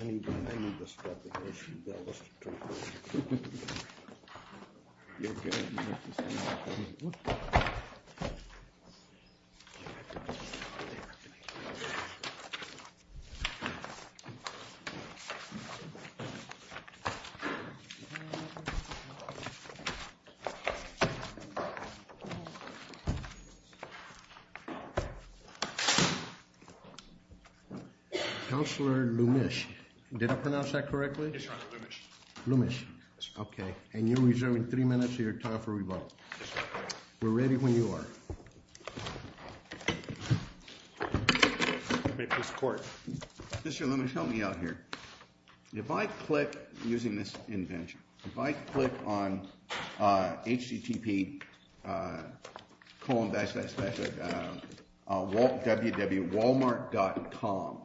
I need this replication. That was the truth. You're good. Counselor Lumish, did I pronounce that correctly? Lumish. Okay. And you're reserving three minutes of your time for rebuttal. We're ready when you are. Mr. Lumish, help me out here. If I click, using this invention, if I click on http://www.walmart.com,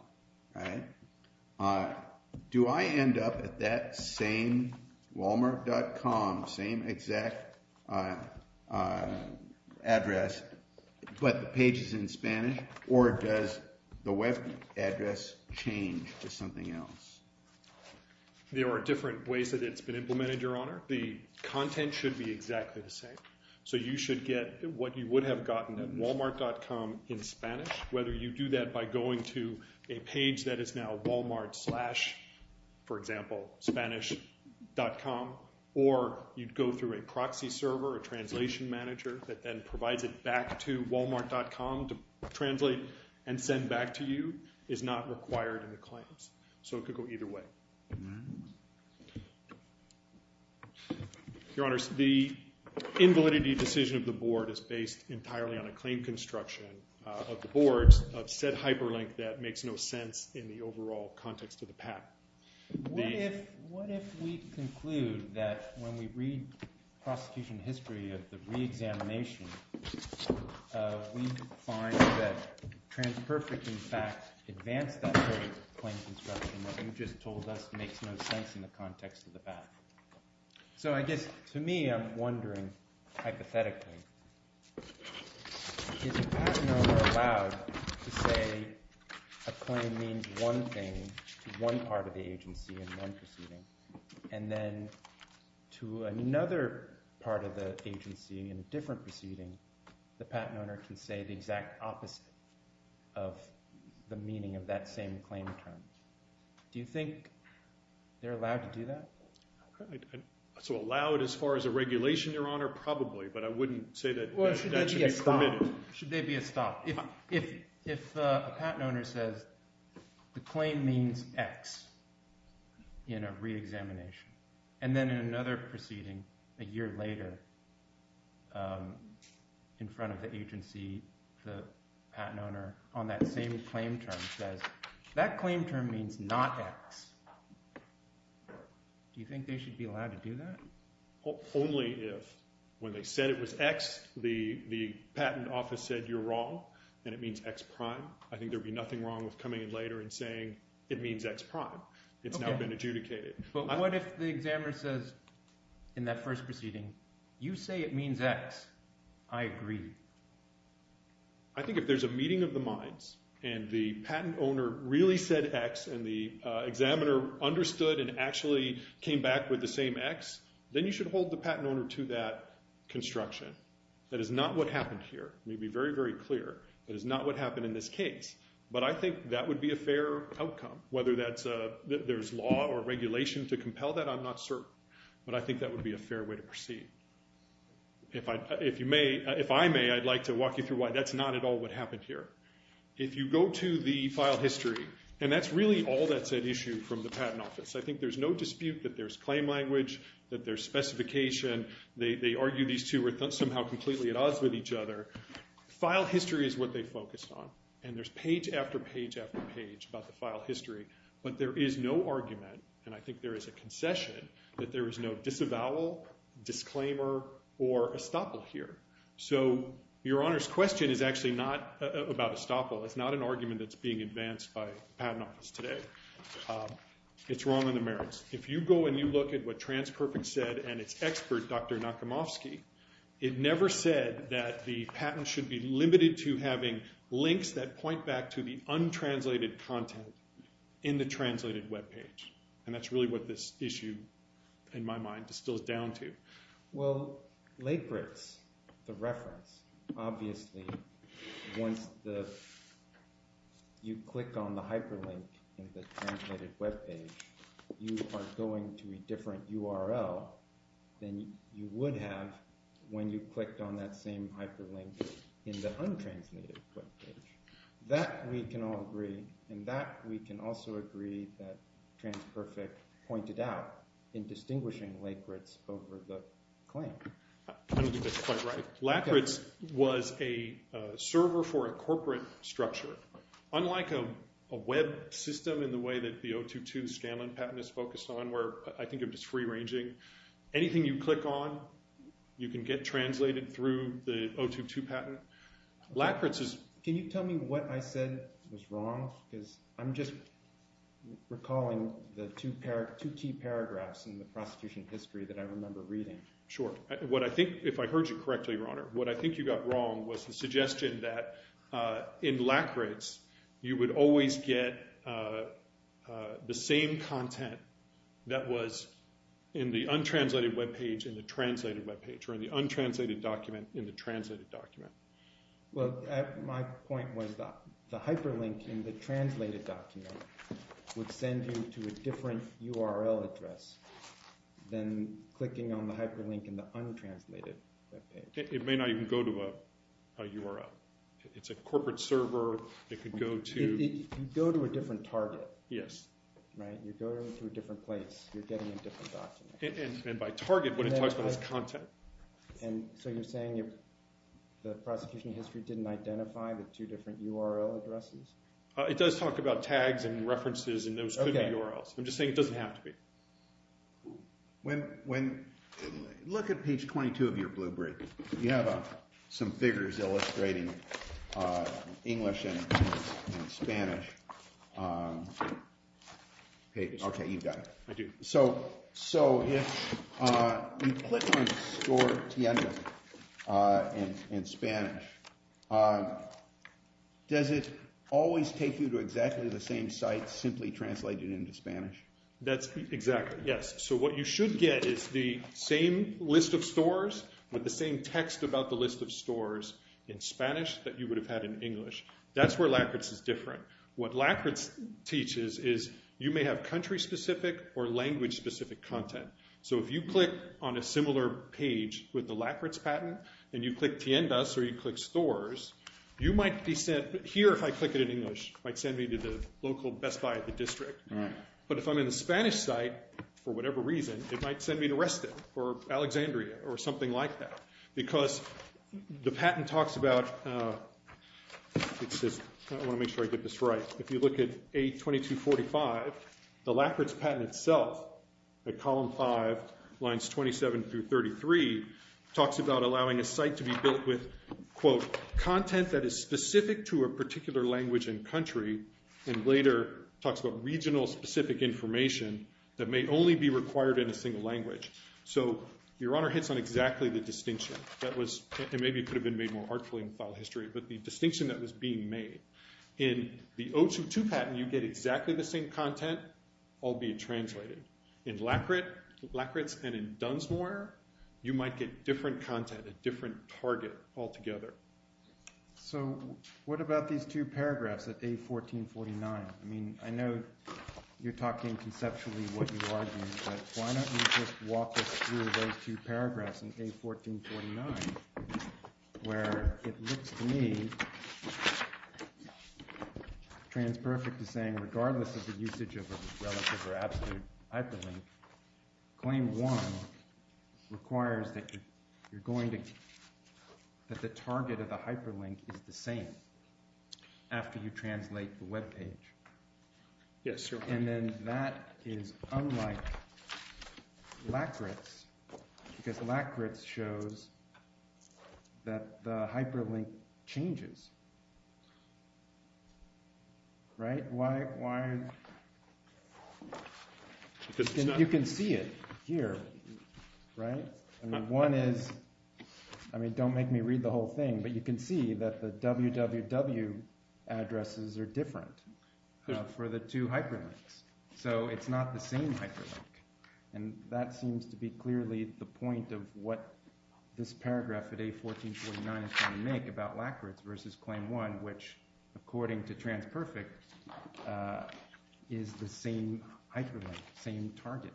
do I end up at that same walmart.com, same exact address, but the page is in Spanish, or does the web address change to something else? There are different ways that it's been implemented, Your Honor. The content should be exactly the same. So you should get what you would have gotten at walmart.com in Spanish. Whether you do that by going to a page that is now walmart slash, for example, Spanish.com, or you'd go through a proxy server, a translation manager that then provides it back to walmart.com to translate and send back to you, is not required in the claims. So it could go either way. Your Honor, the invalidity decision of the board is based entirely on a claim construction of the boards of said hyperlink that makes no sense in the overall context of the patent. What if we conclude that when we read prosecution history of the reexamination, we find that TransPerfect, in fact, advanced that very claim construction that you just told us makes no sense in the context of the patent? So I guess, to me, I'm wondering, hypothetically, is a patent owner allowed to say a claim means one thing to one part of the agency in one proceeding, and then to another part of the agency in a different proceeding, the patent owner can say the exact opposite of the meaning of that same claim term? Do you think they're allowed to do that? So allow it as far as a regulation, Your Honor? Probably, but I wouldn't say that that should be permitted. Should there be a stop? If a patent owner says the claim means X in a reexamination, and then in another proceeding, a year later, in front of the agency, the patent owner, on that same claim term, says that claim term means not X, do you think they should be allowed to do that? Only if, when they said it was X, the patent office said, you're wrong, and it means X prime. I think there would be nothing wrong with coming in later and saying, it means X prime. It's now been adjudicated. But what if the examiner says, in that first proceeding, you say it means X, I agree. I think if there's a meeting of the minds, and the patent owner really said X, and the examiner understood and actually came back with the same X, then you should hold the patent owner to that construction. That is not what happened here. Let me be very, very clear. That is not what happened in this case. But I think that would be a fair outcome. Whether there's law or regulation to compel that, I'm not certain. But I think that would be a fair way to proceed. If I may, I'd like to walk you through why that's not at all what happened here. If you go to the file history, and that's really all that's at issue from the patent office. I think there's no dispute that there's claim language, that there's specification. They argue these two are somehow completely at odds with each other. File history is what they focused on, and there's page after page after page about the file history. But there is no argument, and I think there is a concession, that there is no disavowal, disclaimer, or estoppel here. So Your Honor's question is actually not about estoppel. It's not an argument that's being advanced by the patent office today. It's wrong on the merits. If you go and you look at what TransPerfect said and its expert, Dr. Nakamofsky, it never said that the patent should be limited to having links that point back to the untranslated content in the translated webpage. And that's really what this issue, in my mind, distills down to. Well, Lakritz, the reference, obviously once you click on the hyperlink in the translated webpage, you are going to a different URL than you would have when you clicked on that same hyperlink in the untranslated webpage. That we can all agree, and that we can also agree that TransPerfect pointed out in distinguishing Lakritz over the claim. I think that's quite right. Lakritz was a server for a corporate structure. Unlike a web system in the way that the 022 Scanlan patent is focused on, where I think it was free-ranging, anything you click on, you can get translated through the 022 patent. Can you tell me what I said was wrong? Because I'm just recalling the two key paragraphs in the prosecution history that I remember reading. Sure. If I heard you correctly, Your Honor, what I think you got wrong was the suggestion that in Lakritz, you would always get the same content that was in the untranslated webpage in the translated webpage, or in the untranslated document in the translated document. Well, my point was that the hyperlink in the translated document would send you to a different URL address than clicking on the hyperlink in the untranslated webpage. It may not even go to a URL. It's a corporate server. It could go to… It could go to a different target. Yes. Right? You're going to a different place. You're getting a different document. And by target, what it talks about is content. So you're saying the prosecution history didn't identify the two different URL addresses? It does talk about tags and references, and those could be URLs. I'm just saying it doesn't have to be. Look at page 22 of your blueprint. You have some figures illustrating English and Spanish pages. Okay, you've got it. I do. So if you click on Store Tienda in Spanish, does it always take you to exactly the same site simply translated into Spanish? Exactly, yes. So what you should get is the same list of stores with the same text about the list of stores in Spanish that you would have had in English. That's where Lakritz is different. What Lakritz teaches is you may have country-specific or language-specific content. So if you click on a similar page with the Lakritz patent, and you click Tiendas or you click Stores, you might be sent… Here, if I click it in English, it might send me to the local Best Buy at the district. Right. But if I'm in the Spanish site, for whatever reason, it might send me to Reston or Alexandria or something like that. Because the patent talks about… I want to make sure I get this right. If you look at A2245, the Lakritz patent itself, at column 5, lines 27 through 33, talks about allowing a site to be built with, quote, content that is specific to a particular language and country, and later talks about regional-specific information that may only be required in a single language. So Your Honor hits on exactly the distinction that was – and maybe it could have been made more artfully in file history, but the distinction that was being made. In the O22 patent, you get exactly the same content, albeit translated. In Lakritz and in Dunsmuir, you might get different content, a different target altogether. So what about these two paragraphs at A1449? I mean, I know you're talking conceptually what you argue, but why don't you just walk us through those two paragraphs in A1449, where it looks to me, TransPerfect is saying, regardless of the usage of a relative or absolute hyperlink, claim one requires that you're going to – that the target of the hyperlink is the same after you translate the webpage. Yes, Your Honor. And then that is unlike Lakritz because Lakritz shows that the hyperlink changes, right? Why – you can see it here, right? I mean, one is – I mean, don't make me read the whole thing, but you can see that the www addresses are different for the two hyperlinks. So it's not the same hyperlink. And that seems to be clearly the point of what this paragraph at A1449 is trying to make about Lakritz versus claim one, which according to TransPerfect is the same hyperlink, same target.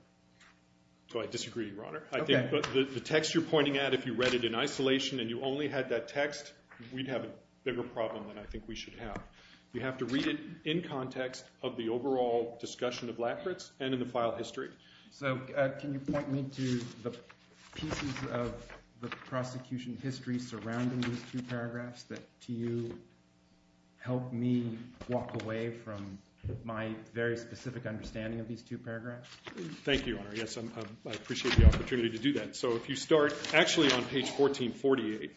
So I disagree, Your Honor. I think the text you're pointing at, if you read it in isolation and you only had that text, we'd have a bigger problem than I think we should have. You have to read it in context of the overall discussion of Lakritz and in the file history. So can you point me to the pieces of the prosecution history surrounding these two paragraphs that to you help me walk away from my very specific understanding of these two paragraphs? Thank you, Your Honor. Yes, I appreciate the opportunity to do that. So if you start actually on page 1448,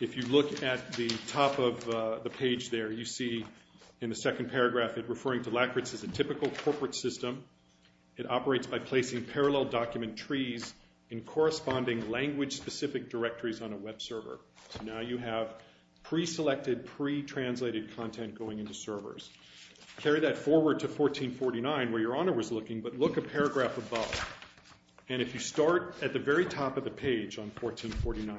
if you look at the top of the page there, you see in the second paragraph it referring to Lakritz as a typical corporate system. It operates by placing parallel document trees in corresponding language-specific directories on a web server. So now you have pre-selected, pre-translated content going into servers. Carry that forward to 1449 where Your Honor was looking, but look a paragraph above. And if you start at the very top of the page on 1449,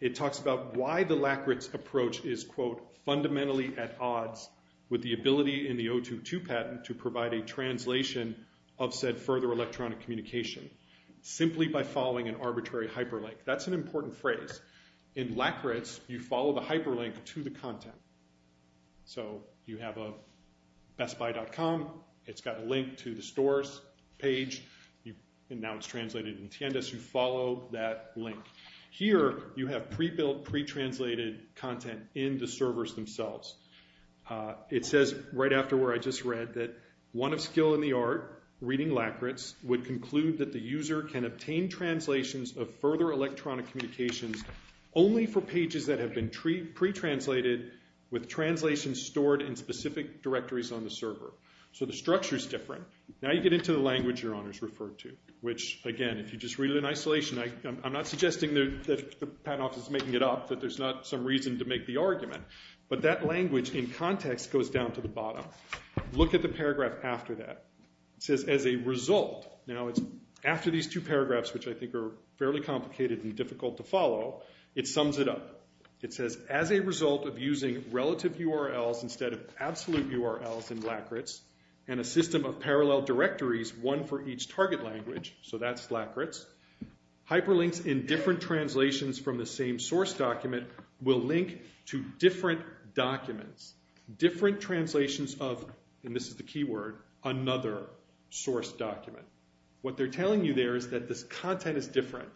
it talks about why the Lakritz approach is, quote, fundamentally at odds with the ability in the 022 patent to provide a translation of said further electronic communication simply by following an arbitrary hyperlink. That's an important phrase. In Lakritz, you follow the hyperlink to the content. So you have a BestBuy.com. It's got a link to the stores page. And now it's translated in Tiendes. You follow that link. Here you have pre-built, pre-translated content in the servers themselves. It says right after where I just read that one of skill in the art, reading Lakritz, would conclude that the user can obtain translations of further electronic communications only for pages that have been pre-translated with translations stored in specific directories on the server. So the structure's different. Now you get into the language Your Honor's referred to, which, again, if you just read it in isolation, I'm not suggesting that the patent office is making it up, that there's not some reason to make the argument. But that language in context goes down to the bottom. Look at the paragraph after that. It says as a result. Now it's after these two paragraphs, which I think are fairly complicated and difficult to follow, it sums it up. It says as a result of using relative URLs instead of absolute URLs in Lakritz and a system of parallel directories, one for each target language, so that's Lakritz, hyperlinks in different translations from the same source document will link to different documents. Different translations of, and this is the key word, another source document. What they're telling you there is that this content is different.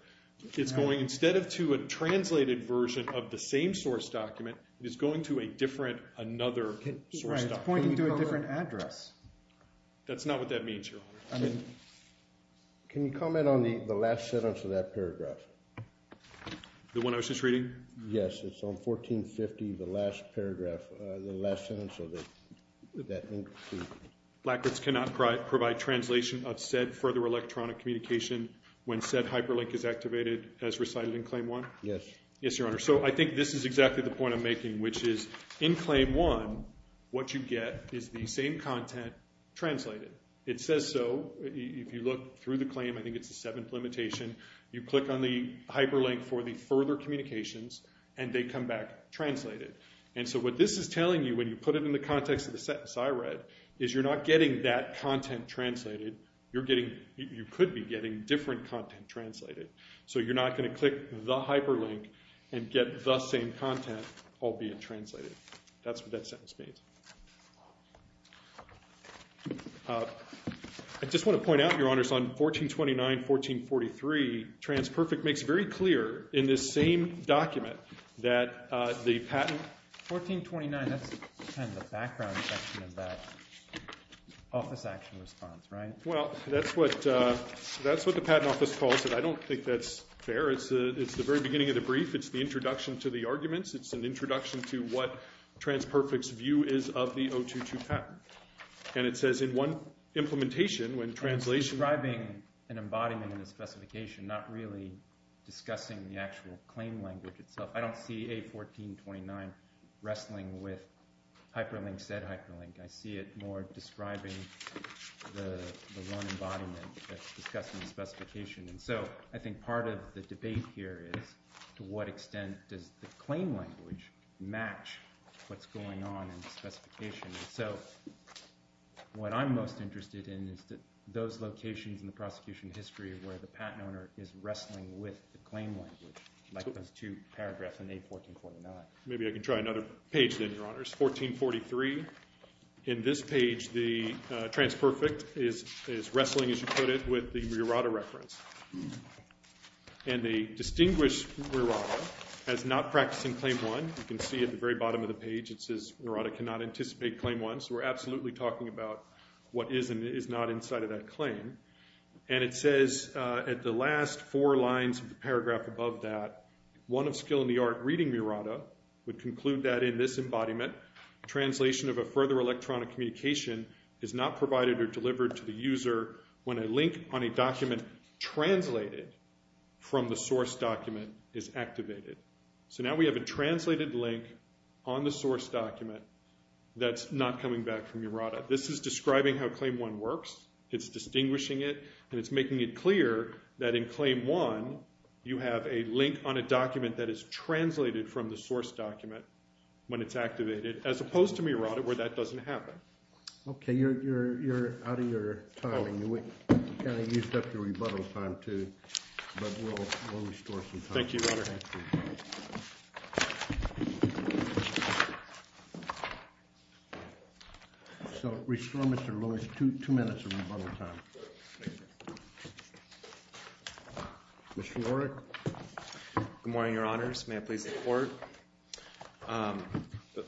It's going instead of to a translated version of the same source document, it's going to a different another source document. It's pointing to a different address. That's not what that means, Your Honor. Can you comment on the last sentence of that paragraph? The one I was just reading? Yes, it's on 1450, the last sentence of that. Lakritz cannot provide translation of said further electronic communication when said hyperlink is activated as recited in Claim 1? Yes. Yes, Your Honor. So I think this is exactly the point I'm making, which is in Claim 1, what you get is the same content translated. It says so. If you look through the claim, I think it's the seventh limitation. You click on the hyperlink for the further communications, and they come back translated. And so what this is telling you, when you put it in the context of the sentence I read, is you're not getting that content translated. You're getting, you could be getting different content translated. So you're not going to click the hyperlink and get the same content all being translated. That's what that sentence means. I just want to point out, Your Honors, on 1429, 1443, TransPerfect makes very clear in this same document that the patent- 1429, that's kind of the background section of that office action response, right? Well, that's what the Patent Office calls it. I don't think that's fair. It's the very beginning of the brief. It's the introduction to the arguments. It's an introduction to what TransPerfect's view is of the 022 patent. And it says in one implementation, when translation- I'm describing an embodiment in the specification, not really discussing the actual claim language itself. I don't see A1429 wrestling with hyperlink said hyperlink. I see it more describing the one embodiment that's discussed in the specification. And so I think part of the debate here is to what extent does the claim language match what's going on in the specification? And so what I'm most interested in is those locations in the prosecution history where the patent owner is wrestling with the claim language, like those two paragraphs in A1449. Maybe I can try another page then, Your Honors. 1443. In this page, the TransPerfect is wrestling, as you put it, with the Murata reference. And they distinguish Murata as not practicing Claim 1. You can see at the very bottom of the page it says, Murata cannot anticipate Claim 1. So we're absolutely talking about what is and is not inside of that claim. And it says at the last four lines of the paragraph above that, one of skill in the art reading Murata would conclude that in this embodiment, translation of a further electronic communication is not provided or delivered to the user when a link on a document translated from the source document is activated. So now we have a translated link on the source document that's not coming back from Murata. This is describing how Claim 1 works. It's distinguishing it, and it's making it clear that in Claim 1, you have a link on a document that is translated from the source document when it's activated, as opposed to Murata, where that doesn't happen. Okay. You're out of your time, and you kind of used up your rebuttal time, too. But we'll restore some time. Thank you, Your Honor. Thank you. So restore, Mr. Lewis, two minutes of rebuttal time. Mr. Warwick. Good morning, Your Honors. May I please report?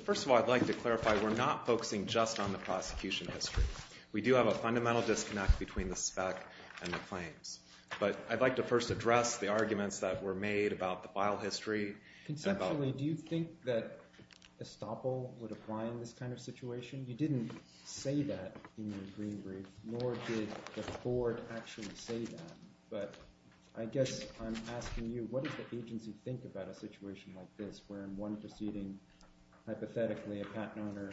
First of all, I'd like to clarify we're not focusing just on the prosecution history. We do have a fundamental disconnect between the spec and the claims. But I'd like to first address the arguments that were made about the file history. Conceptually, do you think that estoppel would apply in this kind of situation? You didn't say that in your green brief, nor did the court actually say that. But I guess I'm asking you, what does the agency think about a situation like this, where in one proceeding, hypothetically, a patent owner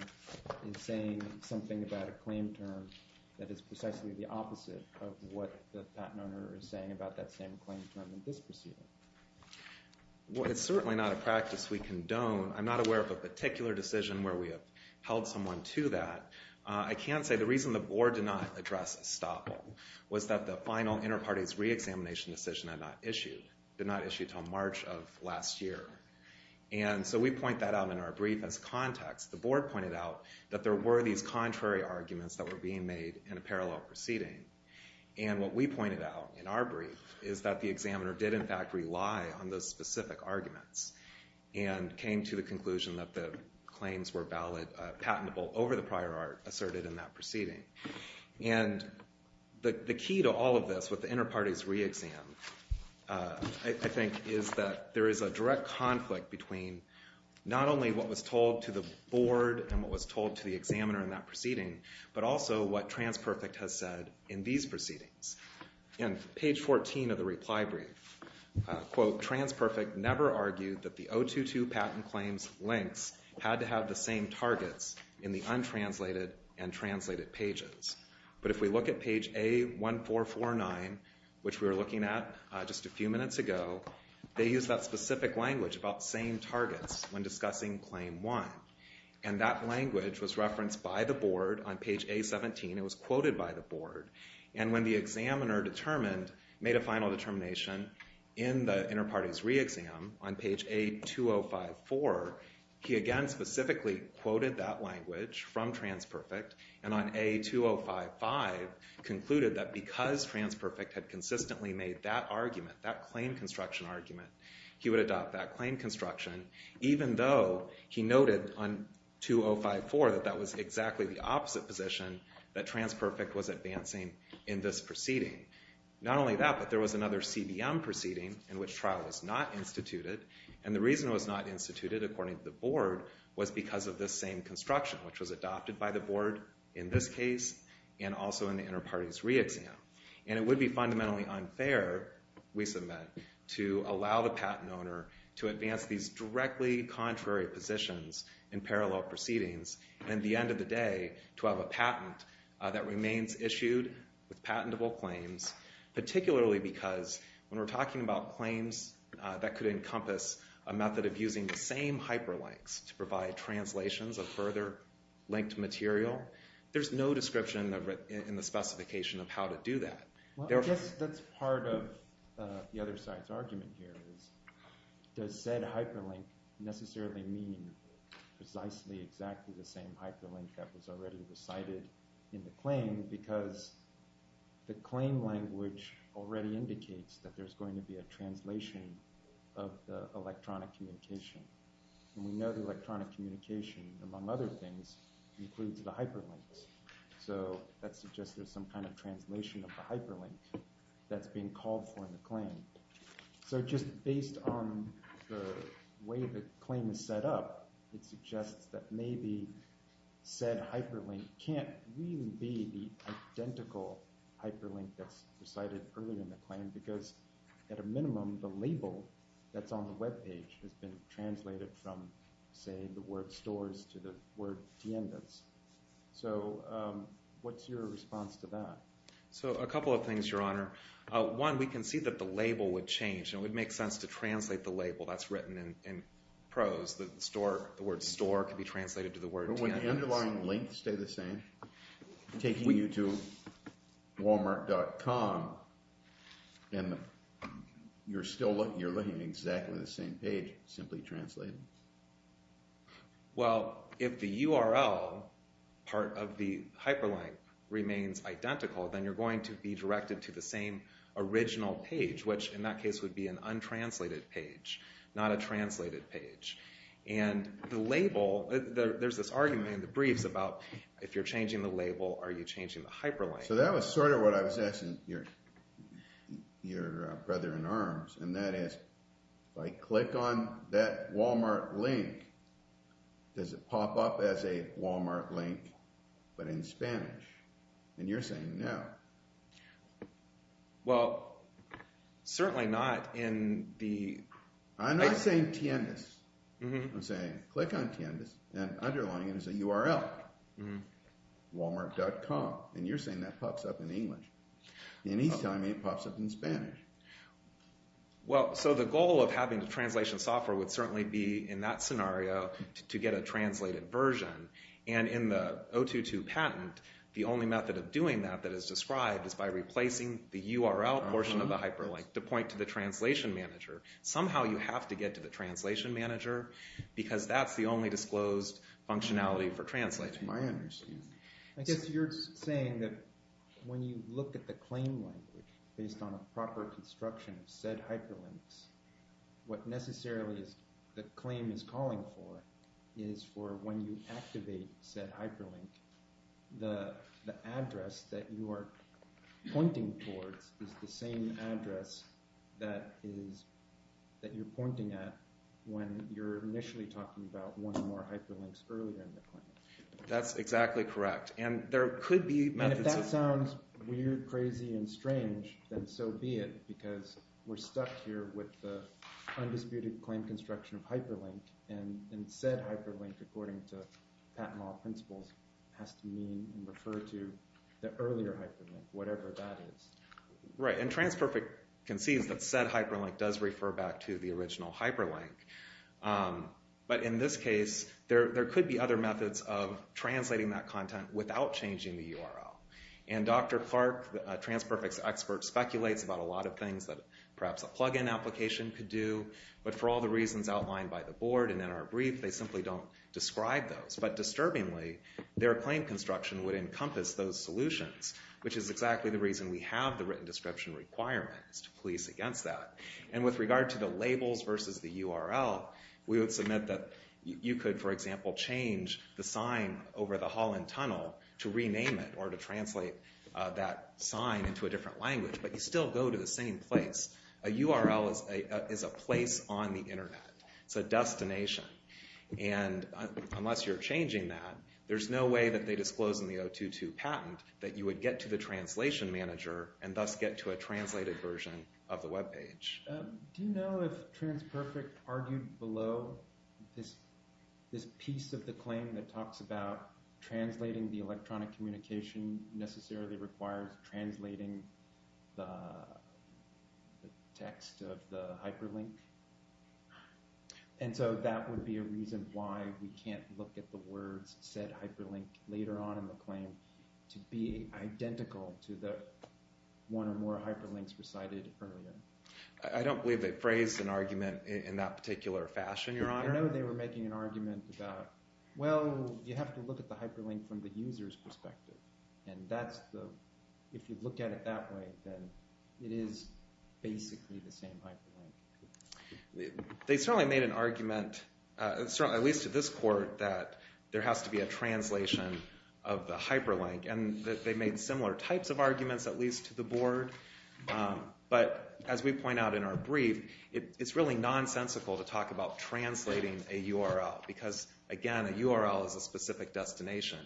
is saying something about a claim term that is precisely the opposite of what the patent owner is saying about that same claim term in this proceeding? Well, it's certainly not a practice we condone. I'm not aware of a particular decision where we have held someone to that. I can't say. The reason the Board did not address estoppel was that the final Interparties Reexamination decision did not issue until March of last year. And so we point that out in our brief as context. The Board pointed out that there were these contrary arguments that were being made in a parallel proceeding. And what we pointed out in our brief is that the examiner did, in fact, rely on those specific arguments and came to the conclusion that the claims were patentable over the prior art asserted in that proceeding. And the key to all of this with the Interparties Reexam, I think, is that there is a direct conflict between not only what was told to the Board and what was told to the examiner in that proceeding, but also what TransPerfect has said in these proceedings. In page 14 of the reply brief, quote, TransPerfect never argued that the 022 patent claims links had to have the same targets in the untranslated and translated pages. But if we look at page A1449, which we were looking at just a few minutes ago, they use that specific language about same targets when discussing Claim 1. And that language was referenced by the Board on page A17. It was quoted by the Board. And when the examiner made a final determination in the Interparties Reexam on page A2054, he again specifically quoted that language from TransPerfect. And on A2055, concluded that because TransPerfect had consistently made that argument, that claim construction argument, he would adopt that claim construction, even though he noted on 2054 that that was exactly the opposite position, that TransPerfect was advancing in this proceeding. Not only that, but there was another CBM proceeding in which trial was not instituted, and the reason it was not instituted, according to the Board, was because of this same construction, which was adopted by the Board in this case and also in the Interparties Reexam. And it would be fundamentally unfair, we submit, to allow the patent owner to advance these directly contrary positions in parallel proceedings, and at the end of the day, to have a patent that remains issued with patentable claims, particularly because when we're talking about claims that could encompass a method of using the same hyperlinks to provide translations of further linked material, there's no description in the specification of how to do that. That's part of the other side's argument here, does said hyperlink necessarily mean precisely exactly the same hyperlink that was already decided in the claim, because the claim language already indicates that there's going to be a translation of the electronic communication. And we know the electronic communication, among other things, includes the hyperlinks. So that suggests there's some kind of translation of the hyperlink that's being called for in the claim. So just based on the way the claim is set up, it suggests that maybe said hyperlink can't really be the identical hyperlink that's decided early in the claim, because at a minimum, the label that's on the web page has been translated from, say, the word stores to the word diendas. So what's your response to that? So a couple of things, Your Honor. One, we can see that the label would change, and it would make sense to translate the label that's written in prose. The word store could be translated to the word diendas. But would the underlying link stay the same, taking you to walmart.com, and you're looking at exactly the same page, simply translated? Well, if the URL part of the hyperlink remains identical, then you're going to be directed to the same original page, which in that case would be an untranslated page, not a translated page. And the label, there's this argument in the briefs about if you're changing the label, are you changing the hyperlink? So that was sort of what I was asking your brother-in-arms, and that is, if I click on that Walmart link, does it pop up as a Walmart link but in Spanish? And you're saying no. Well, certainly not in the... I'm not saying diendas. I'm saying click on diendas, and underlying it is a URL, walmart.com. And you're saying that pops up in English. And he's telling me it pops up in Spanish. Well, so the goal of having the translation software would certainly be in that scenario to get a translated version. And in the 022 patent, the only method of doing that that is described is by replacing the URL portion of the hyperlink to point to the translation manager. Somehow you have to get to the translation manager because that's the only disclosed functionality for translating. That's my understanding. I guess you're saying that when you look at the claim language based on a proper construction of said hyperlinks, what necessarily the claim is calling for is for when you activate said hyperlink, the address that you are pointing towards is the same address that you're pointing at when you're initially talking about one or more hyperlinks earlier in the claim. That's exactly correct. And there could be methods of... And if that sounds weird, crazy, and strange, then so be it because we're stuck here with the undisputed claim construction of hyperlink and said hyperlink, according to patent law principles, has to mean and refer to the earlier hyperlink, whatever that is. Right, and TransPerfect concedes that said hyperlink does refer back to the original hyperlink. But in this case, there could be other methods of translating that content without changing the URL. And Dr. Clark, a TransPerfect expert, speculates about a lot of things that perhaps a plug-in application could do, but for all the reasons outlined by the board and in our brief, they simply don't describe those. But disturbingly, their claim construction would encompass those solutions, which is exactly the reason we have the written description requirement is to police against that. And with regard to the labels versus the URL, we would submit that you could, for example, change the sign over the Holland Tunnel to rename it or to translate that sign into a different language, but you still go to the same place. A URL is a place on the Internet. It's a destination. And unless you're changing that, there's no way that they disclose in the 022 patent that you would get to the translation manager and thus get to a translated version of the webpage. Do you know if TransPerfect argued below this piece of the claim that talks about translating the electronic communication necessarily requires translating the text of the hyperlink? And so that would be a reason why we can't look at the words said hyperlink later on in the claim to be identical to the one or more hyperlinks recited earlier. I don't believe they phrased an argument in that particular fashion, Your Honor. I don't know if they were making an argument about, well, you have to look at the hyperlink from the user's perspective. And if you look at it that way, then it is basically the same hyperlink. They certainly made an argument, at least to this court, that there has to be a translation of the hyperlink. But as we point out in our brief, it's really nonsensical to talk about translating a URL because, again, a URL is a specific destination.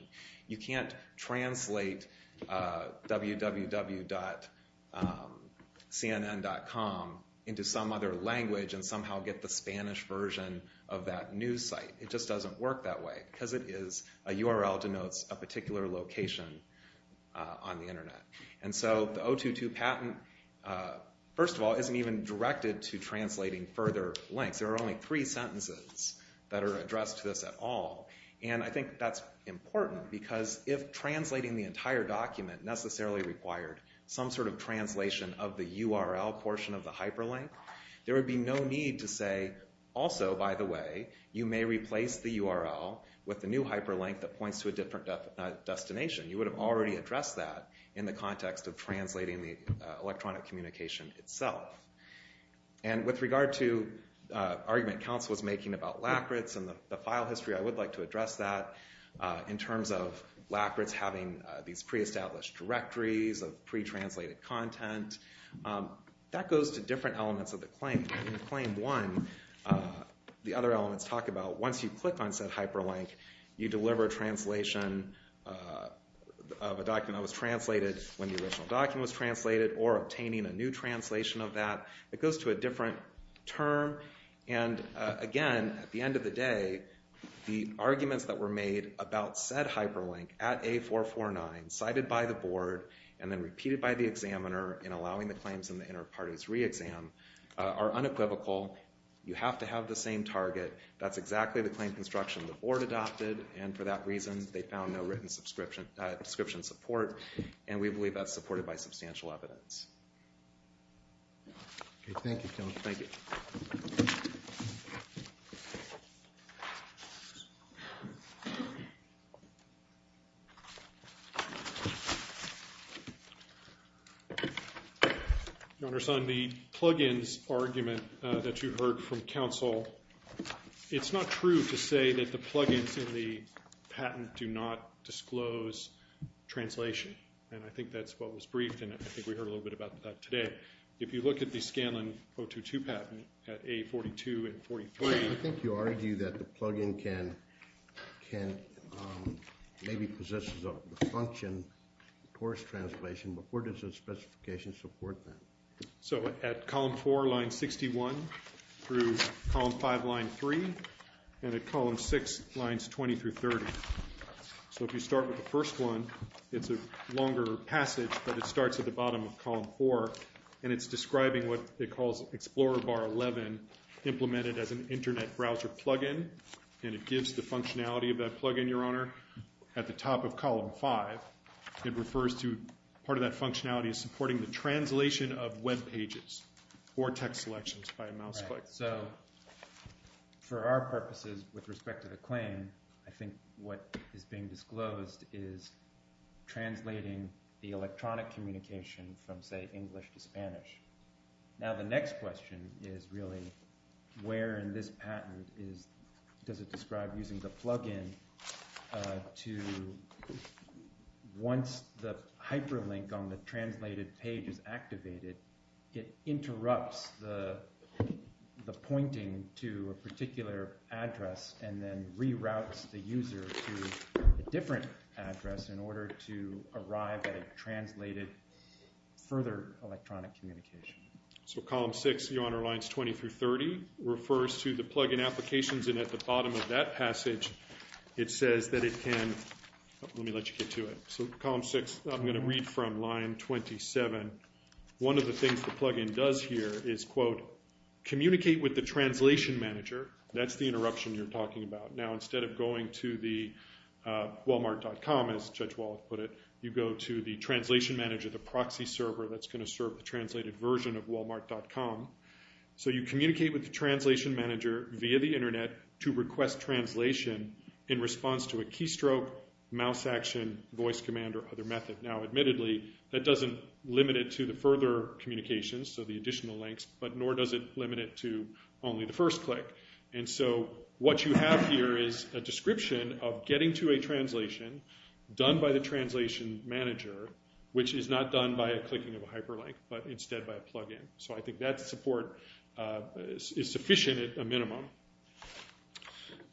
You can't translate www.cnn.com into some other language and somehow get the Spanish version of that news site. It just doesn't work that way because a URL denotes a particular location on the Internet. And so the 022 patent, first of all, isn't even directed to translating further links. There are only three sentences that are addressed to this at all. And I think that's important because if translating the entire document necessarily required some sort of translation of the URL portion of the hyperlink, there would be no need to say, also, by the way, you may replace the URL with the new hyperlink that points to a different destination. You would have already addressed that in the context of translating the electronic communication itself. And with regard to the argument counsel was making about lacquerettes and the file history, I would like to address that in terms of lacquerettes having these pre-established directories of pre-translated content. That goes to different elements of the claim. In Claim 1, the other elements talk about once you click on said hyperlink, you deliver a translation of a document that was translated when the original document was translated or obtaining a new translation of that. It goes to a different term. And again, at the end of the day, the arguments that were made about said hyperlink at A449, cited by the board and then repeated by the examiner in allowing the claims in the inter-parties re-exam, are unequivocal. You have to have the same target. That's exactly the claim construction the board adopted, and for that reason they found no written subscription support, and we believe that's supported by substantial evidence. Okay, thank you, Kevin. Thank you. Your Honor, the plug-ins argument that you heard from counsel, it's not true to say that the plug-ins in the patent do not disclose translation, and I think that's what was briefed, and I think we heard a little bit about that today. If you look at the Scanlon 022 patent at A42 and 43. I think you argue that the plug-in maybe possesses a function towards translation, but where does the specification support that? So at column 4, line 61, through column 5, line 3, and at column 6, lines 20 through 30. So if you start with the first one, it's a longer passage, but it starts at the bottom of column 4, and it's describing what it calls Explorer Bar 11, implemented as an internet browser plug-in, and it gives the functionality of that plug-in, Your Honor, at the top of column 5. It refers to part of that functionality is supporting the translation of web pages or text selections by a mouse click. So for our purposes with respect to the claim, I think what is being disclosed is translating the electronic communication from, say, English to Spanish. Now the next question is really where in this patent does it describe using the plug-in to once the hyperlink on the translated page is activated, it interrupts the pointing to a particular address and then reroutes the user to a different address in order to arrive at a translated further electronic communication. So column 6, Your Honor, lines 20 through 30, refers to the plug-in applications, and at the bottom of that passage, it says that it can let me let you get to it. So column 6, I'm going to read from line 27. One of the things the plug-in does here is, quote, communicate with the translation manager. That's the interruption you're talking about. Now instead of going to the walmart.com, as Judge Wall put it, you go to the translation manager, the proxy server that's going to serve the translated version of walmart.com. So you communicate with the translation manager via the Internet to request translation in response to a keystroke, mouse action, voice command, or other method. Now admittedly, that doesn't limit it to the further communications, so the additional links, but nor does it limit it to only the first click. And so what you have here is a description of getting to a translation done by the translation manager, which is not done by a clicking of a hyperlink, but instead by a plug-in. So I think that support is sufficient at a minimum.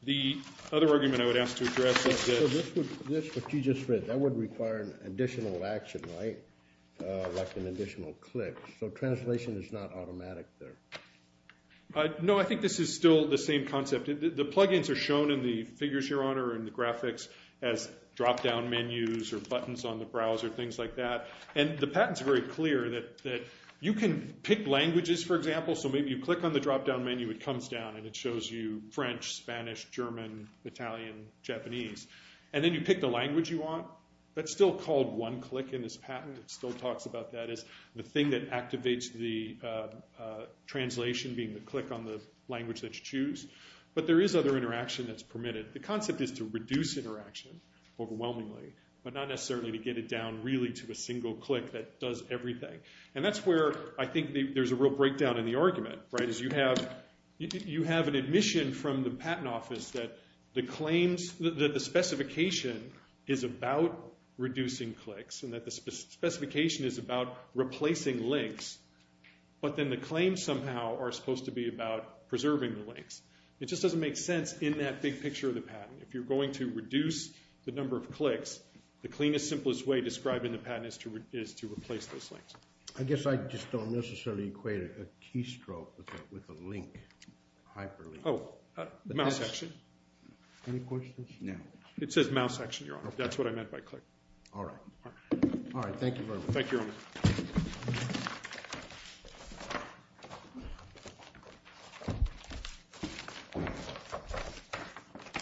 The other argument I would ask to address is this. So this, what you just read, that would require an additional action, right, like an additional click. So translation is not automatic there. No, I think this is still the same concept. The plug-ins are shown in the figures, Your Honor, in the graphics as drop-down menus or buttons on the browser, things like that. And the patent's very clear that you can pick languages, for example, so maybe you click on the drop-down menu, it comes down, and it shows you French, Spanish, German, Italian, Japanese, and then you pick the language you want. That's still called one-click in this patent. It still talks about that as the thing that activates the translation, being the click on the language that you choose. But there is other interaction that's permitted. The concept is to reduce interaction, overwhelmingly, but not necessarily to get it down really to a single click that does everything. And that's where I think there's a real breakdown in the argument, right, is you have an admission from the patent office that the claims, that the specification is about reducing clicks and that the specification is about replacing links, but then the claims somehow are supposed to be about preserving the links. It just doesn't make sense in that big picture of the patent. If you're going to reduce the number of clicks, the cleanest, simplest way describing the patent is to replace those links. I guess I just don't necessarily equate a keystroke with a link, a hyperlink. Oh, mouse action. Any questions? No. It says mouse action, Your Honor. That's what I meant by click. All right. All right. Thank you very much. Thank you, Your Honor.